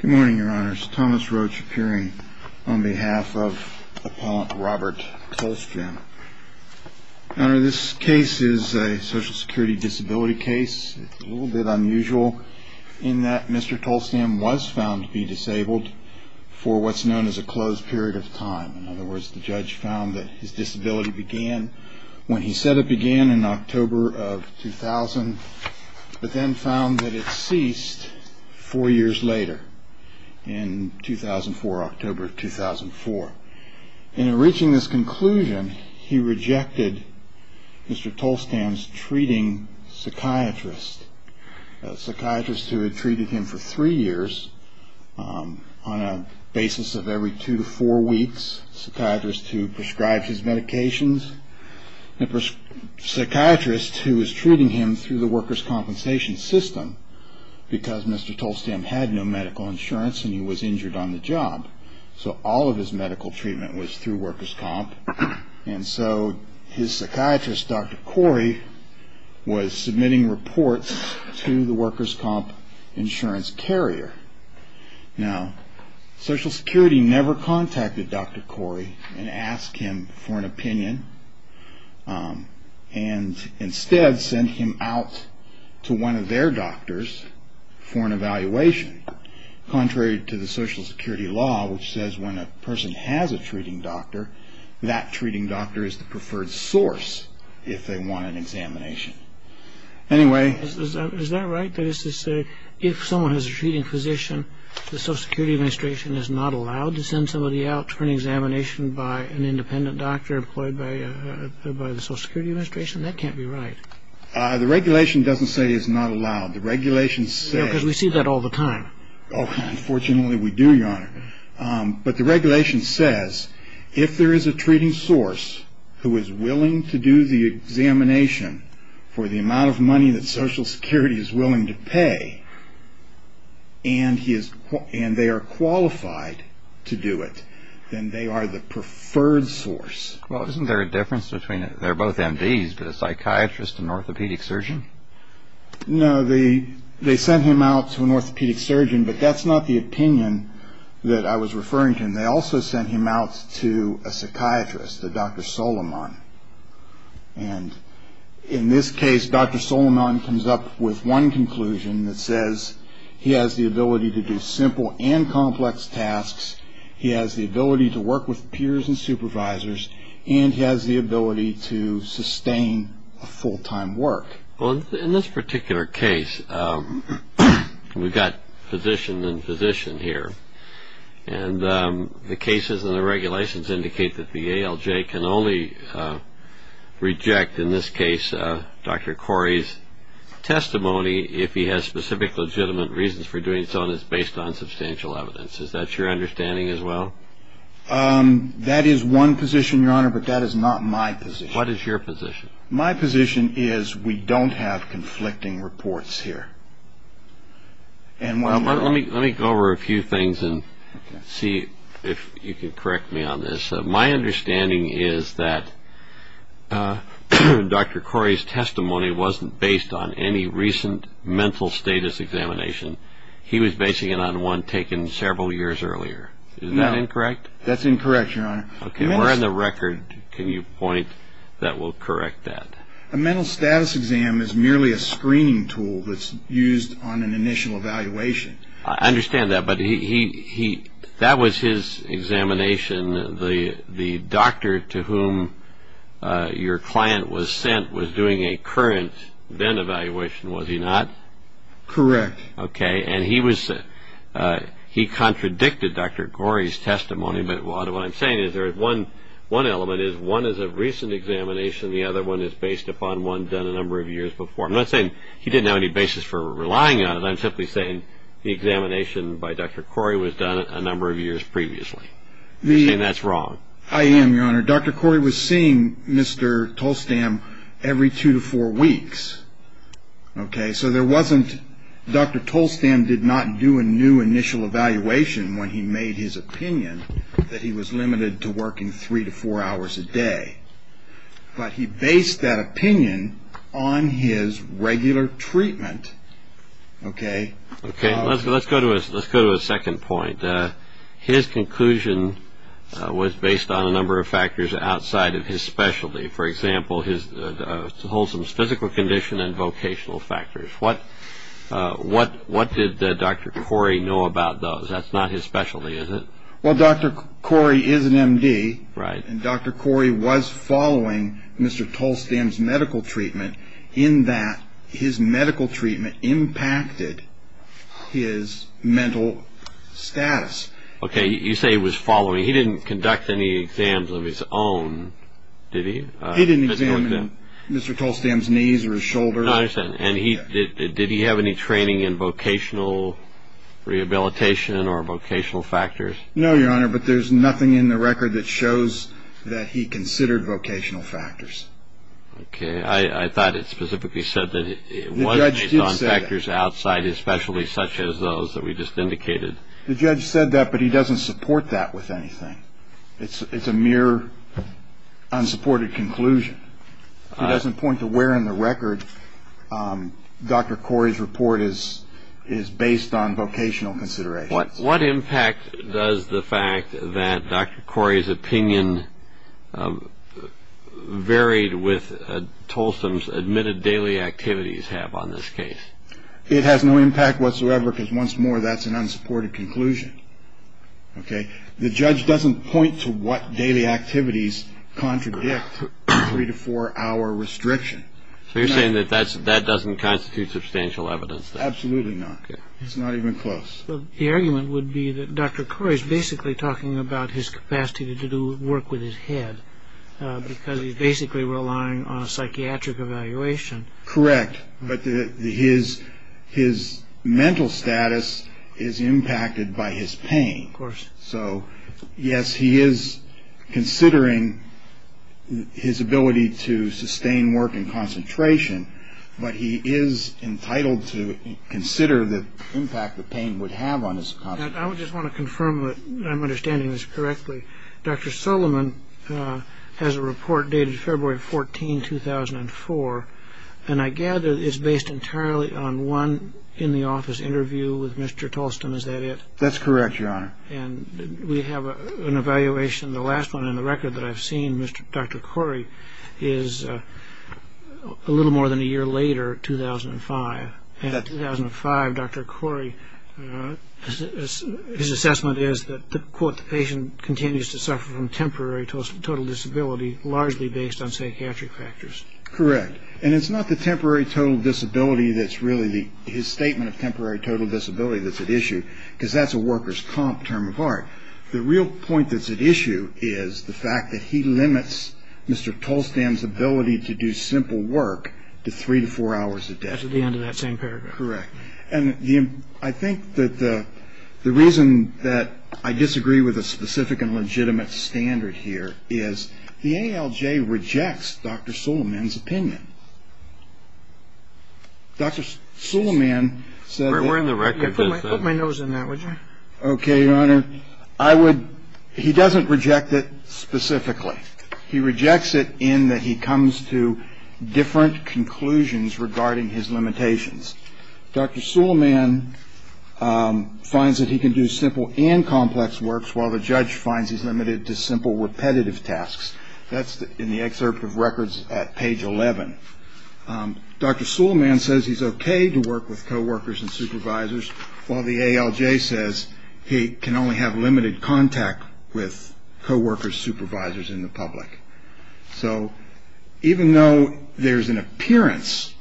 Good morning your honors, Thomas Roach appearing on behalf of appellant Robert Tollstam. Honor, this case is a social security disability case. It's a little bit unusual in that Mr. Tollstam was found to be disabled for what's known as a closed period of time. In other words, the judge found that his disability began when he said it began in October of 2000 but then found that it ceased four years later in 2004, October of 2004. In reaching this conclusion, he rejected Mr. Tollstam's treating psychiatrist. A psychiatrist who had treated him for three years on a basis of every two to four weeks. A psychiatrist who prescribed his medications. A psychiatrist who was treating him through the workers' compensation system because Mr. Tollstam had no medical insurance and he was injured on the job. So all of his medical treatment was through workers' comp. And so his psychiatrist, Dr. Corey, was submitting reports to the workers' comp insurance carrier. Now, social security never contacted Dr. Corey and asked him for an opinion and instead sent him out to one of their doctors for an evaluation. Contrary to the social security law which says when a person has a treating doctor, that treating doctor is the preferred source if they want an examination. Anyway... Is that right? That is to say, if someone has a treating physician, the social security administration is not allowed to send somebody out for an examination by an independent doctor employed by the social security administration? That can't be right. The regulation doesn't say it's not allowed. The regulation says... Because we see that all the time. Oh, unfortunately we do, Your Honor. But the regulation says if there is a treating source who is willing to do the examination for the amount of money that social security is willing to pay and they are qualified to do it, then they are the preferred source. Well, isn't there a difference between... They're both MDs, but a psychiatrist and an orthopedic surgeon? No, they sent him out to an orthopedic surgeon, but that's not the opinion that I was referring to. They also sent him out to a psychiatrist, a Dr. Solomon. And in this case, Dr. Solomon comes up with one conclusion that says he has the ability to do simple and complex tasks, he has the ability to work with peers and supervisors, and he has the ability to sustain a full-time work. Well, in this particular case, we've got physician and physician here, and the cases and the regulations indicate that the ALJ can only reject, in this case, Dr. Corey's testimony if he has specific legitimate reasons for doing so and it's based on substantial evidence. Is that your understanding as well? That is one position, Your Honor, but that is not my position. What is your position? My position is we don't have conflicting reports here. Let me go over a few things and see if you can correct me on this. My understanding is that Dr. Corey's testimony wasn't based on any recent mental status examination. He was basing it on one taken several years earlier. Is that incorrect? No, that's incorrect, Your Honor. Okay, where in the record can you point that will correct that? A mental status exam is merely a screening tool that's used on an initial evaluation. I understand that, but that was his examination. The doctor to whom your client was sent was doing a current then evaluation, was he not? Correct. Okay, and he contradicted Dr. Corey's testimony, but what I'm saying is there is one element is one is a recent examination, the other one is based upon one done a number of years before. I'm not saying he didn't have any basis for relying on it. I'm simply saying the examination by Dr. Corey was done a number of years previously. You're saying that's wrong. I am, Your Honor. Dr. Corey was seeing Mr. Tolstam every two to four weeks. Okay, so there wasn't Dr. Tolstam did not do a new initial evaluation when he made his opinion that he was limited to working three to four hours a day, but he based that opinion on his regular treatment. Okay, let's go to a second point. His conclusion was based on a number of factors outside of his specialty. For example, his wholesome physical condition and vocational factors. What did Dr. Corey know about those? That's not his specialty, is it? Well, Dr. Corey is an M.D., and Dr. Corey was following Mr. Tolstam's medical treatment in that his medical treatment impacted his mental status. Okay, you say he was following. I mean, he didn't conduct any exams of his own, did he? He didn't examine Mr. Tolstam's knees or his shoulders. I understand. And did he have any training in vocational rehabilitation or vocational factors? No, Your Honor, but there's nothing in the record that shows that he considered vocational factors. Okay, I thought it specifically said that it was based on factors outside his specialty, such as those that we just indicated. The judge said that, but he doesn't support that with anything. It's a mere unsupported conclusion. He doesn't point to where in the record Dr. Corey's report is based on vocational considerations. What impact does the fact that Dr. Corey's opinion varied with Tolstam's admitted daily activities have on this case? It has no impact whatsoever because, once more, that's an unsupported conclusion. The judge doesn't point to what daily activities contradict the three- to four-hour restriction. So you're saying that that doesn't constitute substantial evidence? Absolutely not. It's not even close. The argument would be that Dr. Corey's basically talking about his capacity to do work with his head because he's basically relying on a psychiatric evaluation. Correct, but his mental status is impacted by his pain. Of course. So, yes, he is considering his ability to sustain work and concentration, but he is entitled to consider the impact the pain would have on his concentration. I just want to confirm that I'm understanding this correctly. Dr. Solomon has a report dated February 14, 2004, and I gather it's based entirely on one in-the-office interview with Mr. Tolstam, is that it? That's correct, Your Honor. And we have an evaluation. The last one in the record that I've seen, Dr. Corey, is a little more than a year later, 2005. And in 2005, Dr. Corey, his assessment is that, quote, the patient continues to suffer from temporary total disability largely based on psychiatric factors. Correct, and it's not the temporary total disability that's really the – his statement of temporary total disability that's at issue, because that's a workers' comp term of art. The real point that's at issue is the fact that he limits Mr. Tolstam's ability to do simple work to three to four hours a day. That's at the end of that same paragraph. Correct. And I think that the reason that I disagree with a specific and legitimate standard here is the ALJ rejects Dr. Solomon's opinion. Dr. Solomon said that – We're in the record for – Put my nose in that, would you? Okay, Your Honor. I would – he doesn't reject it specifically. He rejects it in that he comes to different conclusions regarding his limitations. Dr. Solomon finds that he can do simple and complex works, while the judge finds he's limited to simple repetitive tasks. That's in the excerpt of records at page 11. Dr. Solomon says he's okay to work with coworkers and supervisors, while the ALJ says he can only have limited contact with coworkers, supervisors, and the public. So even though there's an appearance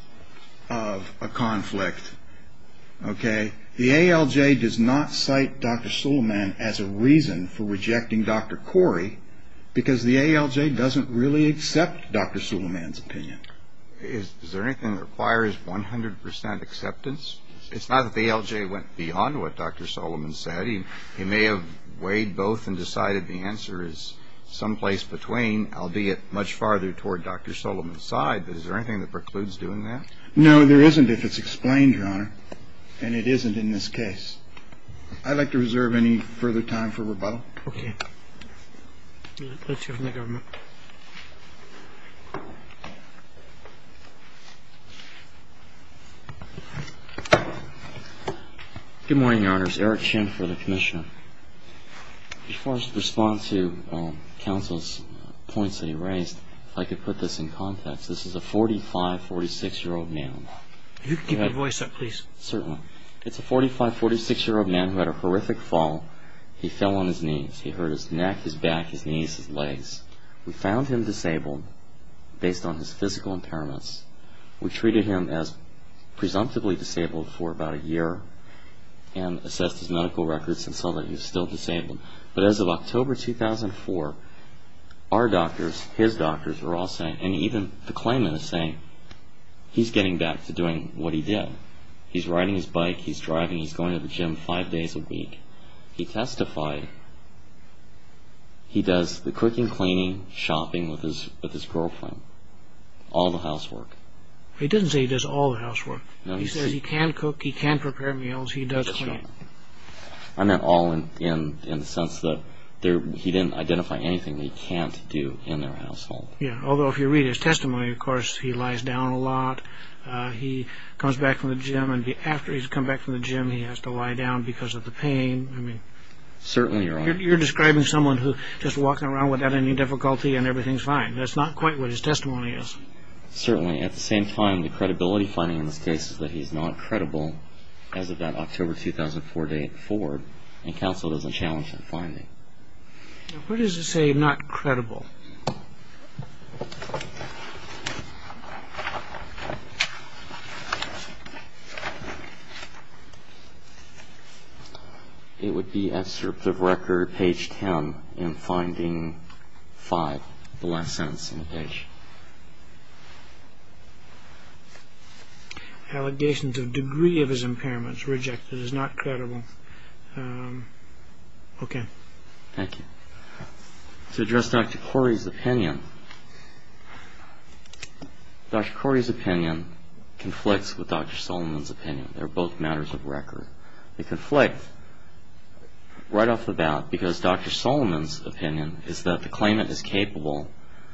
of a conflict, okay, the ALJ does not cite Dr. Solomon as a reason for rejecting Dr. Corey, because the ALJ doesn't really accept Dr. Solomon's opinion. Is there anything that requires 100 percent acceptance? It's not that the ALJ went beyond what Dr. Solomon said. He may have weighed both and decided the answer is someplace between, albeit much farther toward Dr. Solomon's side. But is there anything that precludes doing that? No, there isn't, if it's explained, Your Honor. And it isn't in this case. I'd like to reserve any further time for rebuttal. Okay. Let's hear from the government. Good morning, Your Honor. This is Eric Chin for the commissioner. As far as the response to counsel's points that he raised, if I could put this in context, this is a 45, 46-year-old man. If you could keep your voice up, please. Certainly. It's a 45, 46-year-old man who had a horrific fall. He fell on his knees. He hurt his neck, his back, his knees, his legs. We found him disabled based on his physical impairments. We treated him as presumptively disabled for about a year and assessed his medical records and saw that he was still disabled. But as of October 2004, our doctors, his doctors, were all saying, and even the claimant is saying, he's getting back to doing what he did. He's riding his bike. He's driving. He's going to the gym five days a week. He testified he does the cooking, cleaning, shopping with his girlfriend, all the housework. He didn't say he does all the housework. He says he can cook. He can prepare meals. He does cleaning. I meant all in the sense that he didn't identify anything that he can't do in their household. He comes back from the gym, and after he's come back from the gym, he has to lie down because of the pain. You're describing someone who's just walking around without any difficulty and everything's fine. That's not quite what his testimony is. Certainly. At the same time, the credibility finding in this case is that he's not credible as of that October 2004 date forward, and counsel doesn't challenge that finding. What does it say, not credible? It would be, as of record, page 10 in finding 5, the last sentence in the page. Allegations of degree of his impairments rejected as not credible. Okay. Thank you. To address Dr. Corey's opinion, Dr. Corey's opinion conflicts with Dr. Solomon's opinion. They're both matters of record. They conflict right off the bat because Dr. Solomon's opinion is that the claimant is capable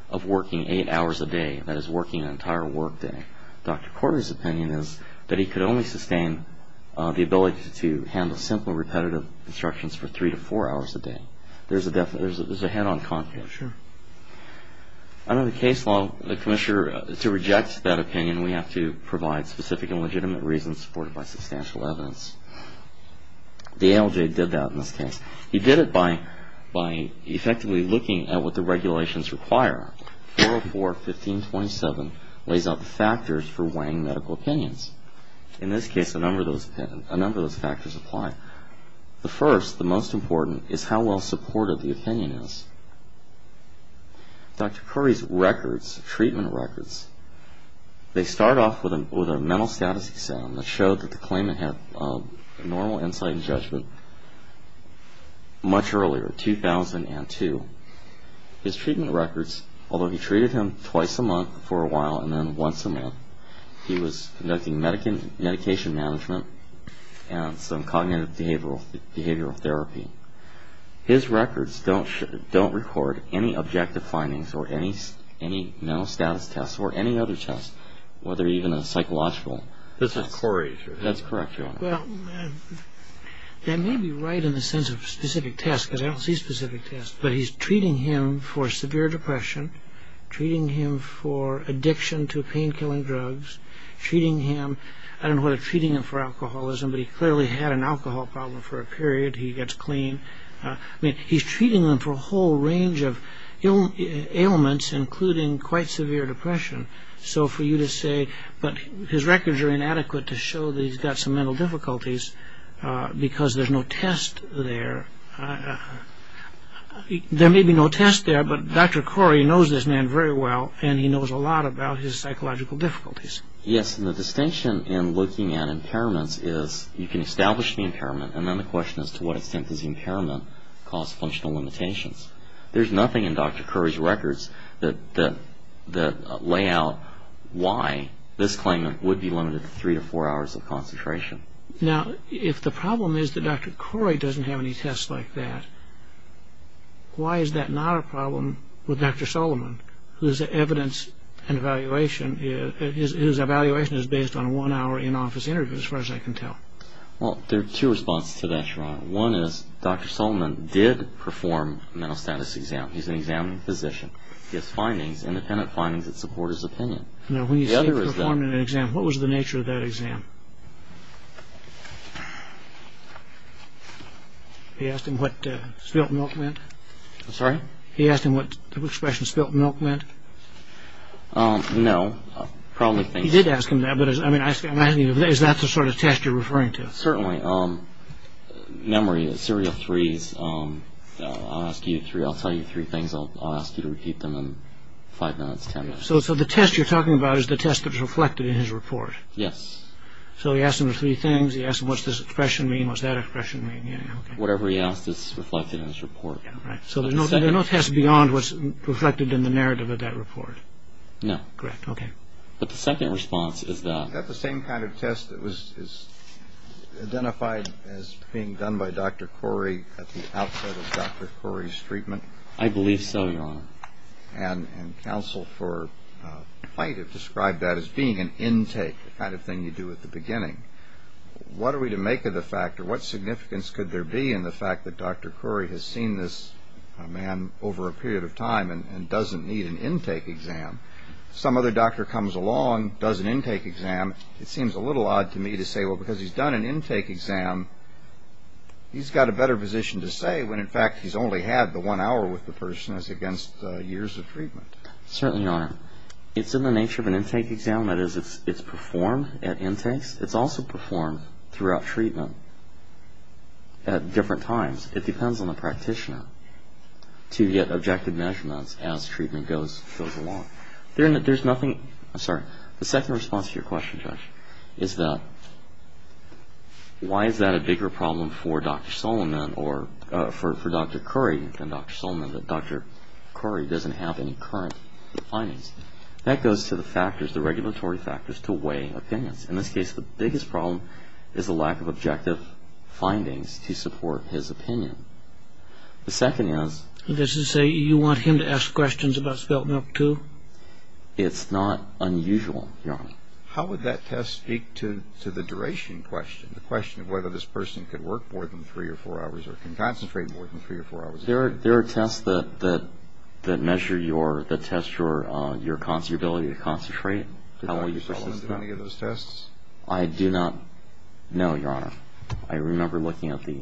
of working eight hours a day, that is, working an entire work day. Dr. Corey's opinion is that he could only sustain the ability to handle simple, repetitive instructions for three to four hours a day. There's a head-on conflict. Sure. Under the case law, the commissioner, to reject that opinion, we have to provide specific and legitimate reasons supported by substantial evidence. The ALJ did that in this case. He did it by effectively looking at what the regulations require. 404.15.27 lays out the factors for weighing medical opinions. In this case, a number of those factors apply. The first, the most important, is how well supported the opinion is. Dr. Corey's records, treatment records, they start off with a mental status exam that showed that the claimant had normal insight and judgment much earlier, 2002. His treatment records, although he treated him twice a month for a while and then once a month, he was conducting medication management and some cognitive behavioral therapy. His records don't record any objective findings or any mental status tests or any other tests, whether even a psychological. This is Corey's records. That's correct, Your Honor. Well, that may be right in the sense of specific tests, because I don't see specific tests. But he's treating him for severe depression, treating him for addiction to painkilling drugs, treating him. I don't know whether treating him for alcoholism, but he clearly had an alcohol problem for a period. He gets clean. I mean, he's treating him for a whole range of ailments, including quite severe depression. So for you to say, but his records are inadequate to show that he's got some mental difficulties because there's no test there. There may be no test there, but Dr. Corey knows this man very well, and he knows a lot about his psychological difficulties. Yes, and the distinction in looking at impairments is you can establish the impairment, and then the question is to what extent does the impairment cause functional limitations. There's nothing in Dr. Corey's records that lay out why this claimant would be limited to three to four hours of concentration. Now, if the problem is that Dr. Corey doesn't have any tests like that, why is that not a problem with Dr. Solomon, whose evidence and evaluation is based on one hour in-office interviews, as far as I can tell? Well, there are two responses to that, Your Honor. One is Dr. Solomon did perform a mental status exam. He's an examining physician. He has findings, independent findings, that support his opinion. Now, when you say he performed an exam, what was the nature of that exam? He asked him what spilt milk meant? I'm sorry? He asked him what the expression spilt milk meant? No. He did ask him that, but is that the sort of test you're referring to? Certainly. Memory, the serial threes, I'll tell you three things. I'll ask you to repeat them in five minutes, ten minutes. So the test you're talking about is the test that's reflected in his report? Yes. So he asked him the three things. He asked him what's this expression mean, what's that expression mean? Whatever he asked is reflected in his report. So there's no test beyond what's reflected in the narrative of that report? No. Correct, okay. But the second response is that... ...is identified as being done by Dr. Corey at the outset of Dr. Corey's treatment? I believe so, Your Honor. And counsel for plaintiff described that as being an intake, the kind of thing you do at the beginning. What are we to make of the fact or what significance could there be in the fact that Dr. Corey has seen this man over a period of time and doesn't need an intake exam? Some other doctor comes along, does an intake exam. It seems a little odd to me to say, well, because he's done an intake exam, he's got a better position to say when, in fact, he's only had the one hour with the person as against years of treatment. Certainly, Your Honor. It's in the nature of an intake exam. That is, it's performed at intakes. It's also performed throughout treatment at different times. It depends on the practitioner to get objective measurements as treatment goes along. There's nothing, I'm sorry, the second response to your question, Judge, is that why is that a bigger problem for Dr. Solomon or for Dr. Corey than Dr. Solomon that Dr. Corey doesn't have any current findings? That goes to the factors, the regulatory factors to weigh opinions. In this case, the biggest problem is the lack of objective findings to support his opinion. The second is? Does it say you want him to ask questions about spelt milk, too? It's not unusual, Your Honor. How would that test speak to the duration question, the question of whether this person could work more than three or four hours or can concentrate more than three or four hours a day? There are tests that measure your ability to concentrate. Did Dr. Solomon do any of those tests? I do not know, Your Honor. I remember looking at the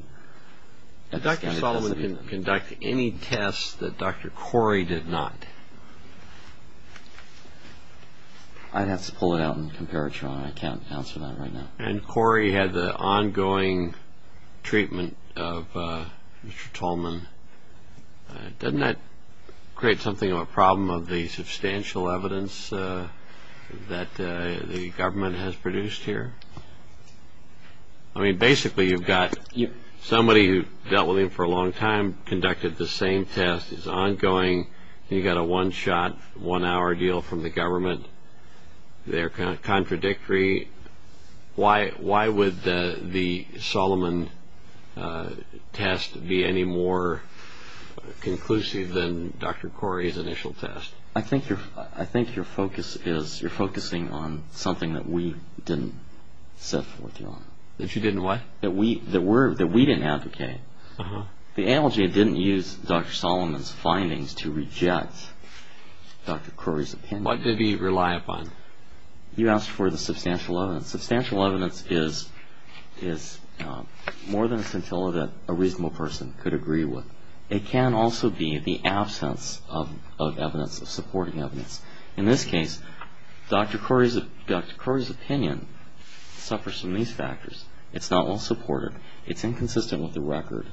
test. Did Dr. Solomon conduct any tests that Dr. Corey did not? I'd have to pull it out and compare it, Your Honor. I can't answer that right now. And Corey had the ongoing treatment of Mr. Tolman. Doesn't that create something of a problem of the substantial evidence that the government has produced here? I mean, basically, you've got somebody who dealt with him for a long time, conducted the same test, is ongoing, and you've got a one-shot, one-hour deal from the government. They're contradictory. Why would the Solomon test be any more conclusive than Dr. Corey's initial test? I think you're focusing on something that we didn't set forth, Your Honor. That you didn't what? That we didn't advocate. The analogy, it didn't use Dr. Solomon's findings to reject Dr. Corey's opinion. What did he rely upon? You asked for the substantial evidence. Substantial evidence is more than a scintilla that a reasonable person could agree with. It can also be the absence of evidence, of supporting evidence. In this case, Dr. Corey's opinion suffers from these factors. It's not well supported. It's inconsistent with the record.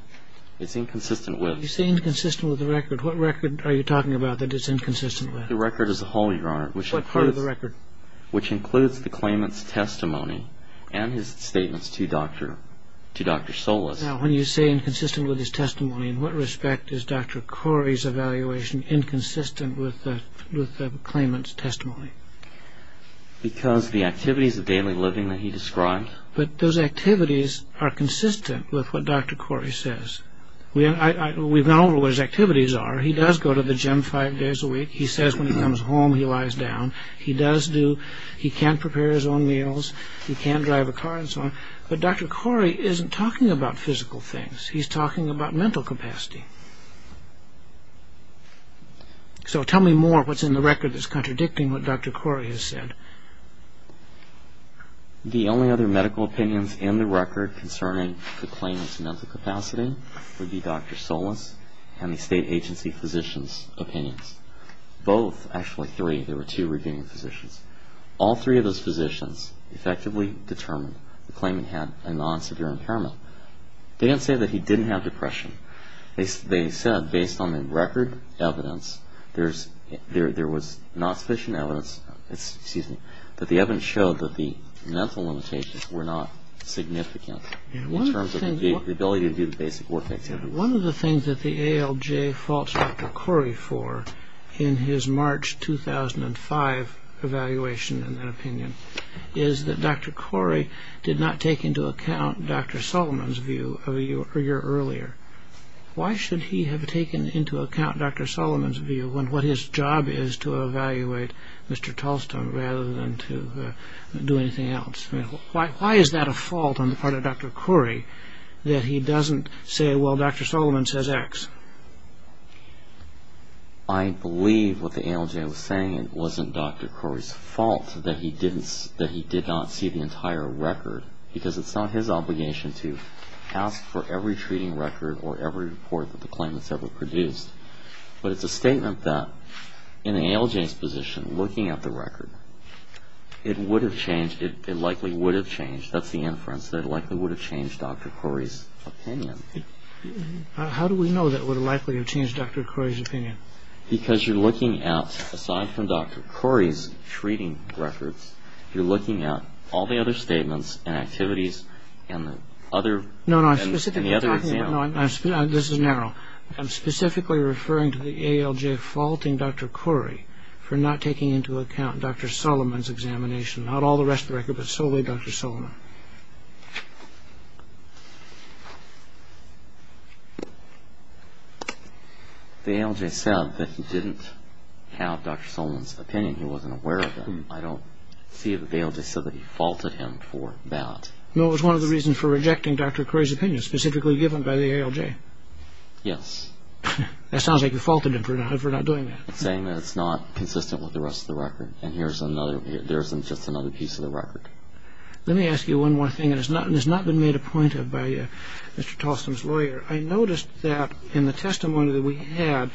It's inconsistent with. You say inconsistent with the record. What record are you talking about that it's inconsistent with? The record as a whole, Your Honor. What part of the record? Which includes the claimant's testimony and his statements to Dr. Solis. Now, when you say inconsistent with his testimony, in what respect is Dr. Corey's evaluation inconsistent with the claimant's testimony? Because the activities of daily living that he described. But those activities are consistent with what Dr. Corey says. We've gone over what his activities are. He does go to the gym five days a week. He says when he comes home he lies down. He does do. He can't prepare his own meals. He can't drive a car and so on. But Dr. Corey isn't talking about physical things. He's talking about mental capacity. So tell me more what's in the record that's contradicting what Dr. Corey has said. The only other medical opinions in the record concerning the claimant's mental capacity would be Dr. Solis and the state agency physician's opinions. Both, actually three, there were two reviewing physicians. All three of those physicians effectively determined the claimant had a non-severe impairment. They didn't say that he didn't have depression. They said based on the record evidence there was not sufficient evidence, excuse me, that the evidence showed that the mental limitations were not significant in terms of the ability to do the basic work that's happening. One of the things that the ALJ faults Dr. Corey for in his March 2005 evaluation and then opinion is that Dr. Corey did not take into account Dr. Solomon's view a year earlier. Why should he have taken into account Dr. Solomon's view when what his job is to evaluate Mr. Tolstoy rather than to do anything else? Why is that a fault on the part of Dr. Corey that he doesn't say, well, Dr. Solomon says X? I believe what the ALJ was saying wasn't Dr. Corey's fault that he did not see the entire record because it's not his obligation to ask for every treating record or every report that the claimant's ever produced. But it's a statement that in the ALJ's position, looking at the record, it would have changed, it likely would have changed, that's the inference, that it likely would have changed Dr. Corey's opinion. How do we know that it would have likely changed Dr. Corey's opinion? Because you're looking at, aside from Dr. Corey's treating records, you're looking at all the other statements and activities and the other examples. No, no, I'm specifically talking about, this is narrow, I'm specifically referring to the ALJ faulting Dr. Corey for not taking into account Dr. Solomon's examination, not all the rest of the record, but solely Dr. Solomon. The ALJ said that he didn't have Dr. Solomon's opinion, he wasn't aware of it. I don't see that the ALJ said that he faulted him for that. No, it was one of the reasons for rejecting Dr. Corey's opinion, specifically given by the ALJ. Yes. That sounds like you faulted him for not doing that. Saying that it's not consistent with the rest of the record, and there isn't just another piece of the record. Let me ask you one more thing that has not been made a point of by Mr. Tolstom's lawyer. I noticed that in the testimony that we had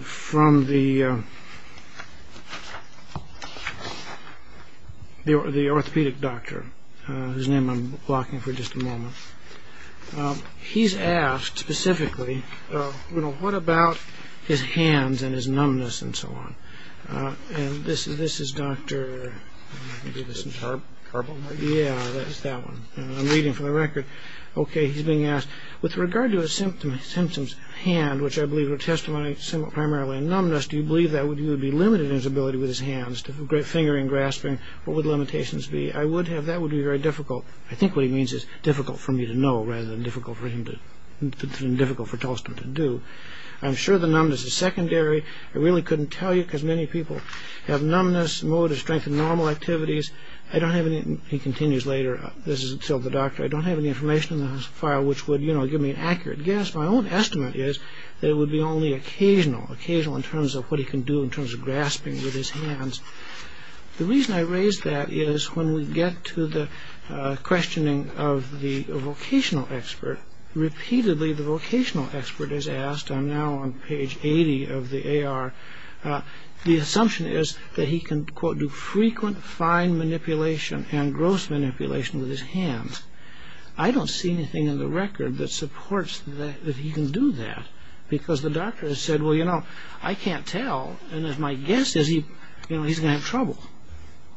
from the orthopedic doctor, he's asked specifically, you know, what about his hands and his numbness and so on. And this is Dr. Carbone. Yeah, that's that one. I'm reading from the record. Okay, he's being asked, with regard to his symptoms, hand, which I believe were testimony primarily of numbness, do you believe that would be limited in his ability with his hands, fingering, grasping, what would limitations be? I would have, that would be very difficult. I think what he means is difficult for me to know, rather than difficult for Tolstom to do. I'm sure the numbness is secondary. I really couldn't tell you because many people have numbness, mode of strength and normal activities. I don't have any, he continues later, this is still the doctor, I don't have any information in the file which would, you know, give me an accurate guess. My own estimate is that it would be only occasional, occasional in terms of what he can do in terms of grasping with his hands. The reason I raise that is when we get to the questioning of the vocational expert, repeatedly the vocational expert is asked, I'm now on page 80 of the AR, the assumption is that he can, quote, do frequent fine manipulation and gross manipulation with his hands. I don't see anything in the record that supports that he can do that because the doctor has said, well, you know, I can't tell, and my guess is he's going to have trouble.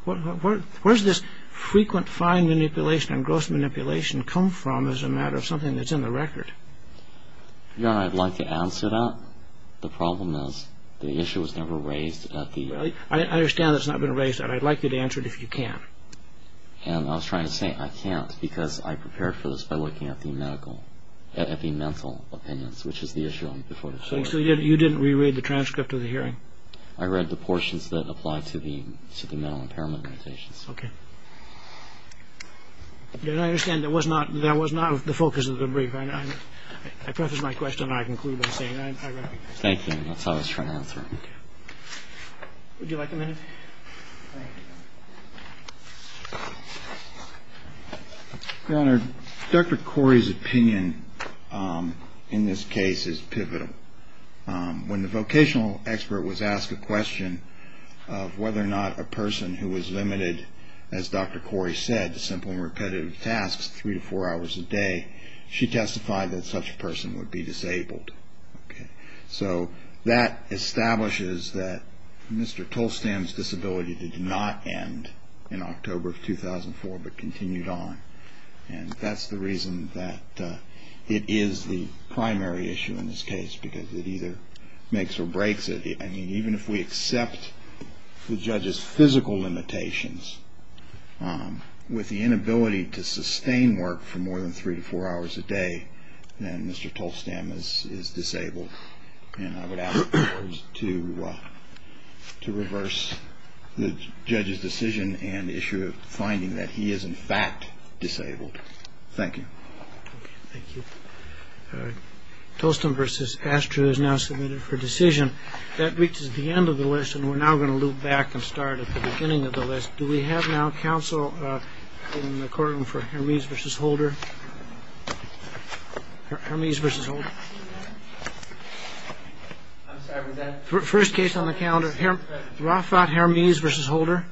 Where does this frequent fine manipulation and gross manipulation come from as a matter of something that's in the record? Your Honor, I'd like to answer that. The problem is the issue was never raised at the… Well, I understand that it's not been raised. I'd like you to answer it if you can. And I was trying to say I can't because I prepared for this by looking at the medical, at the mental opinions, which is the issue. So you didn't reread the transcript of the hearing? I read the portions that apply to the mental impairment meditations. Okay. Then I understand that was not the focus of the brief. I preface my question and I conclude by saying I read it. Thank you. That's how I was trying to answer it. Would you like a minute? Thank you. Your Honor, Dr. Corey's opinion in this case is pivotal. When the vocational expert was asked a question of whether or not a person who was limited, as Dr. Corey said, to simple and repetitive tasks three to four hours a day, she testified that such a person would be disabled. So that establishes that Mr. Tolstam's disability did not end in October of 2004 but continued on. And that's the reason that it is the primary issue in this case because it either makes or breaks it. I mean, even if we accept the judge's physical limitations, with the inability to sustain work for more than three to four hours a day, then Mr. Tolstam is disabled. And I would ask the court to reverse the judge's decision and issue a finding that he is in fact disabled. Thank you. Thank you. Tolstam v. Astruz is now submitted for decision. That reaches the end of the list, and we're now going to loop back and start at the beginning of the list. Do we have now counsel in the courtroom for Hermes v. Holder? Hermes v. Holder. First case on the calendar, Rafat Hermes v. Holder.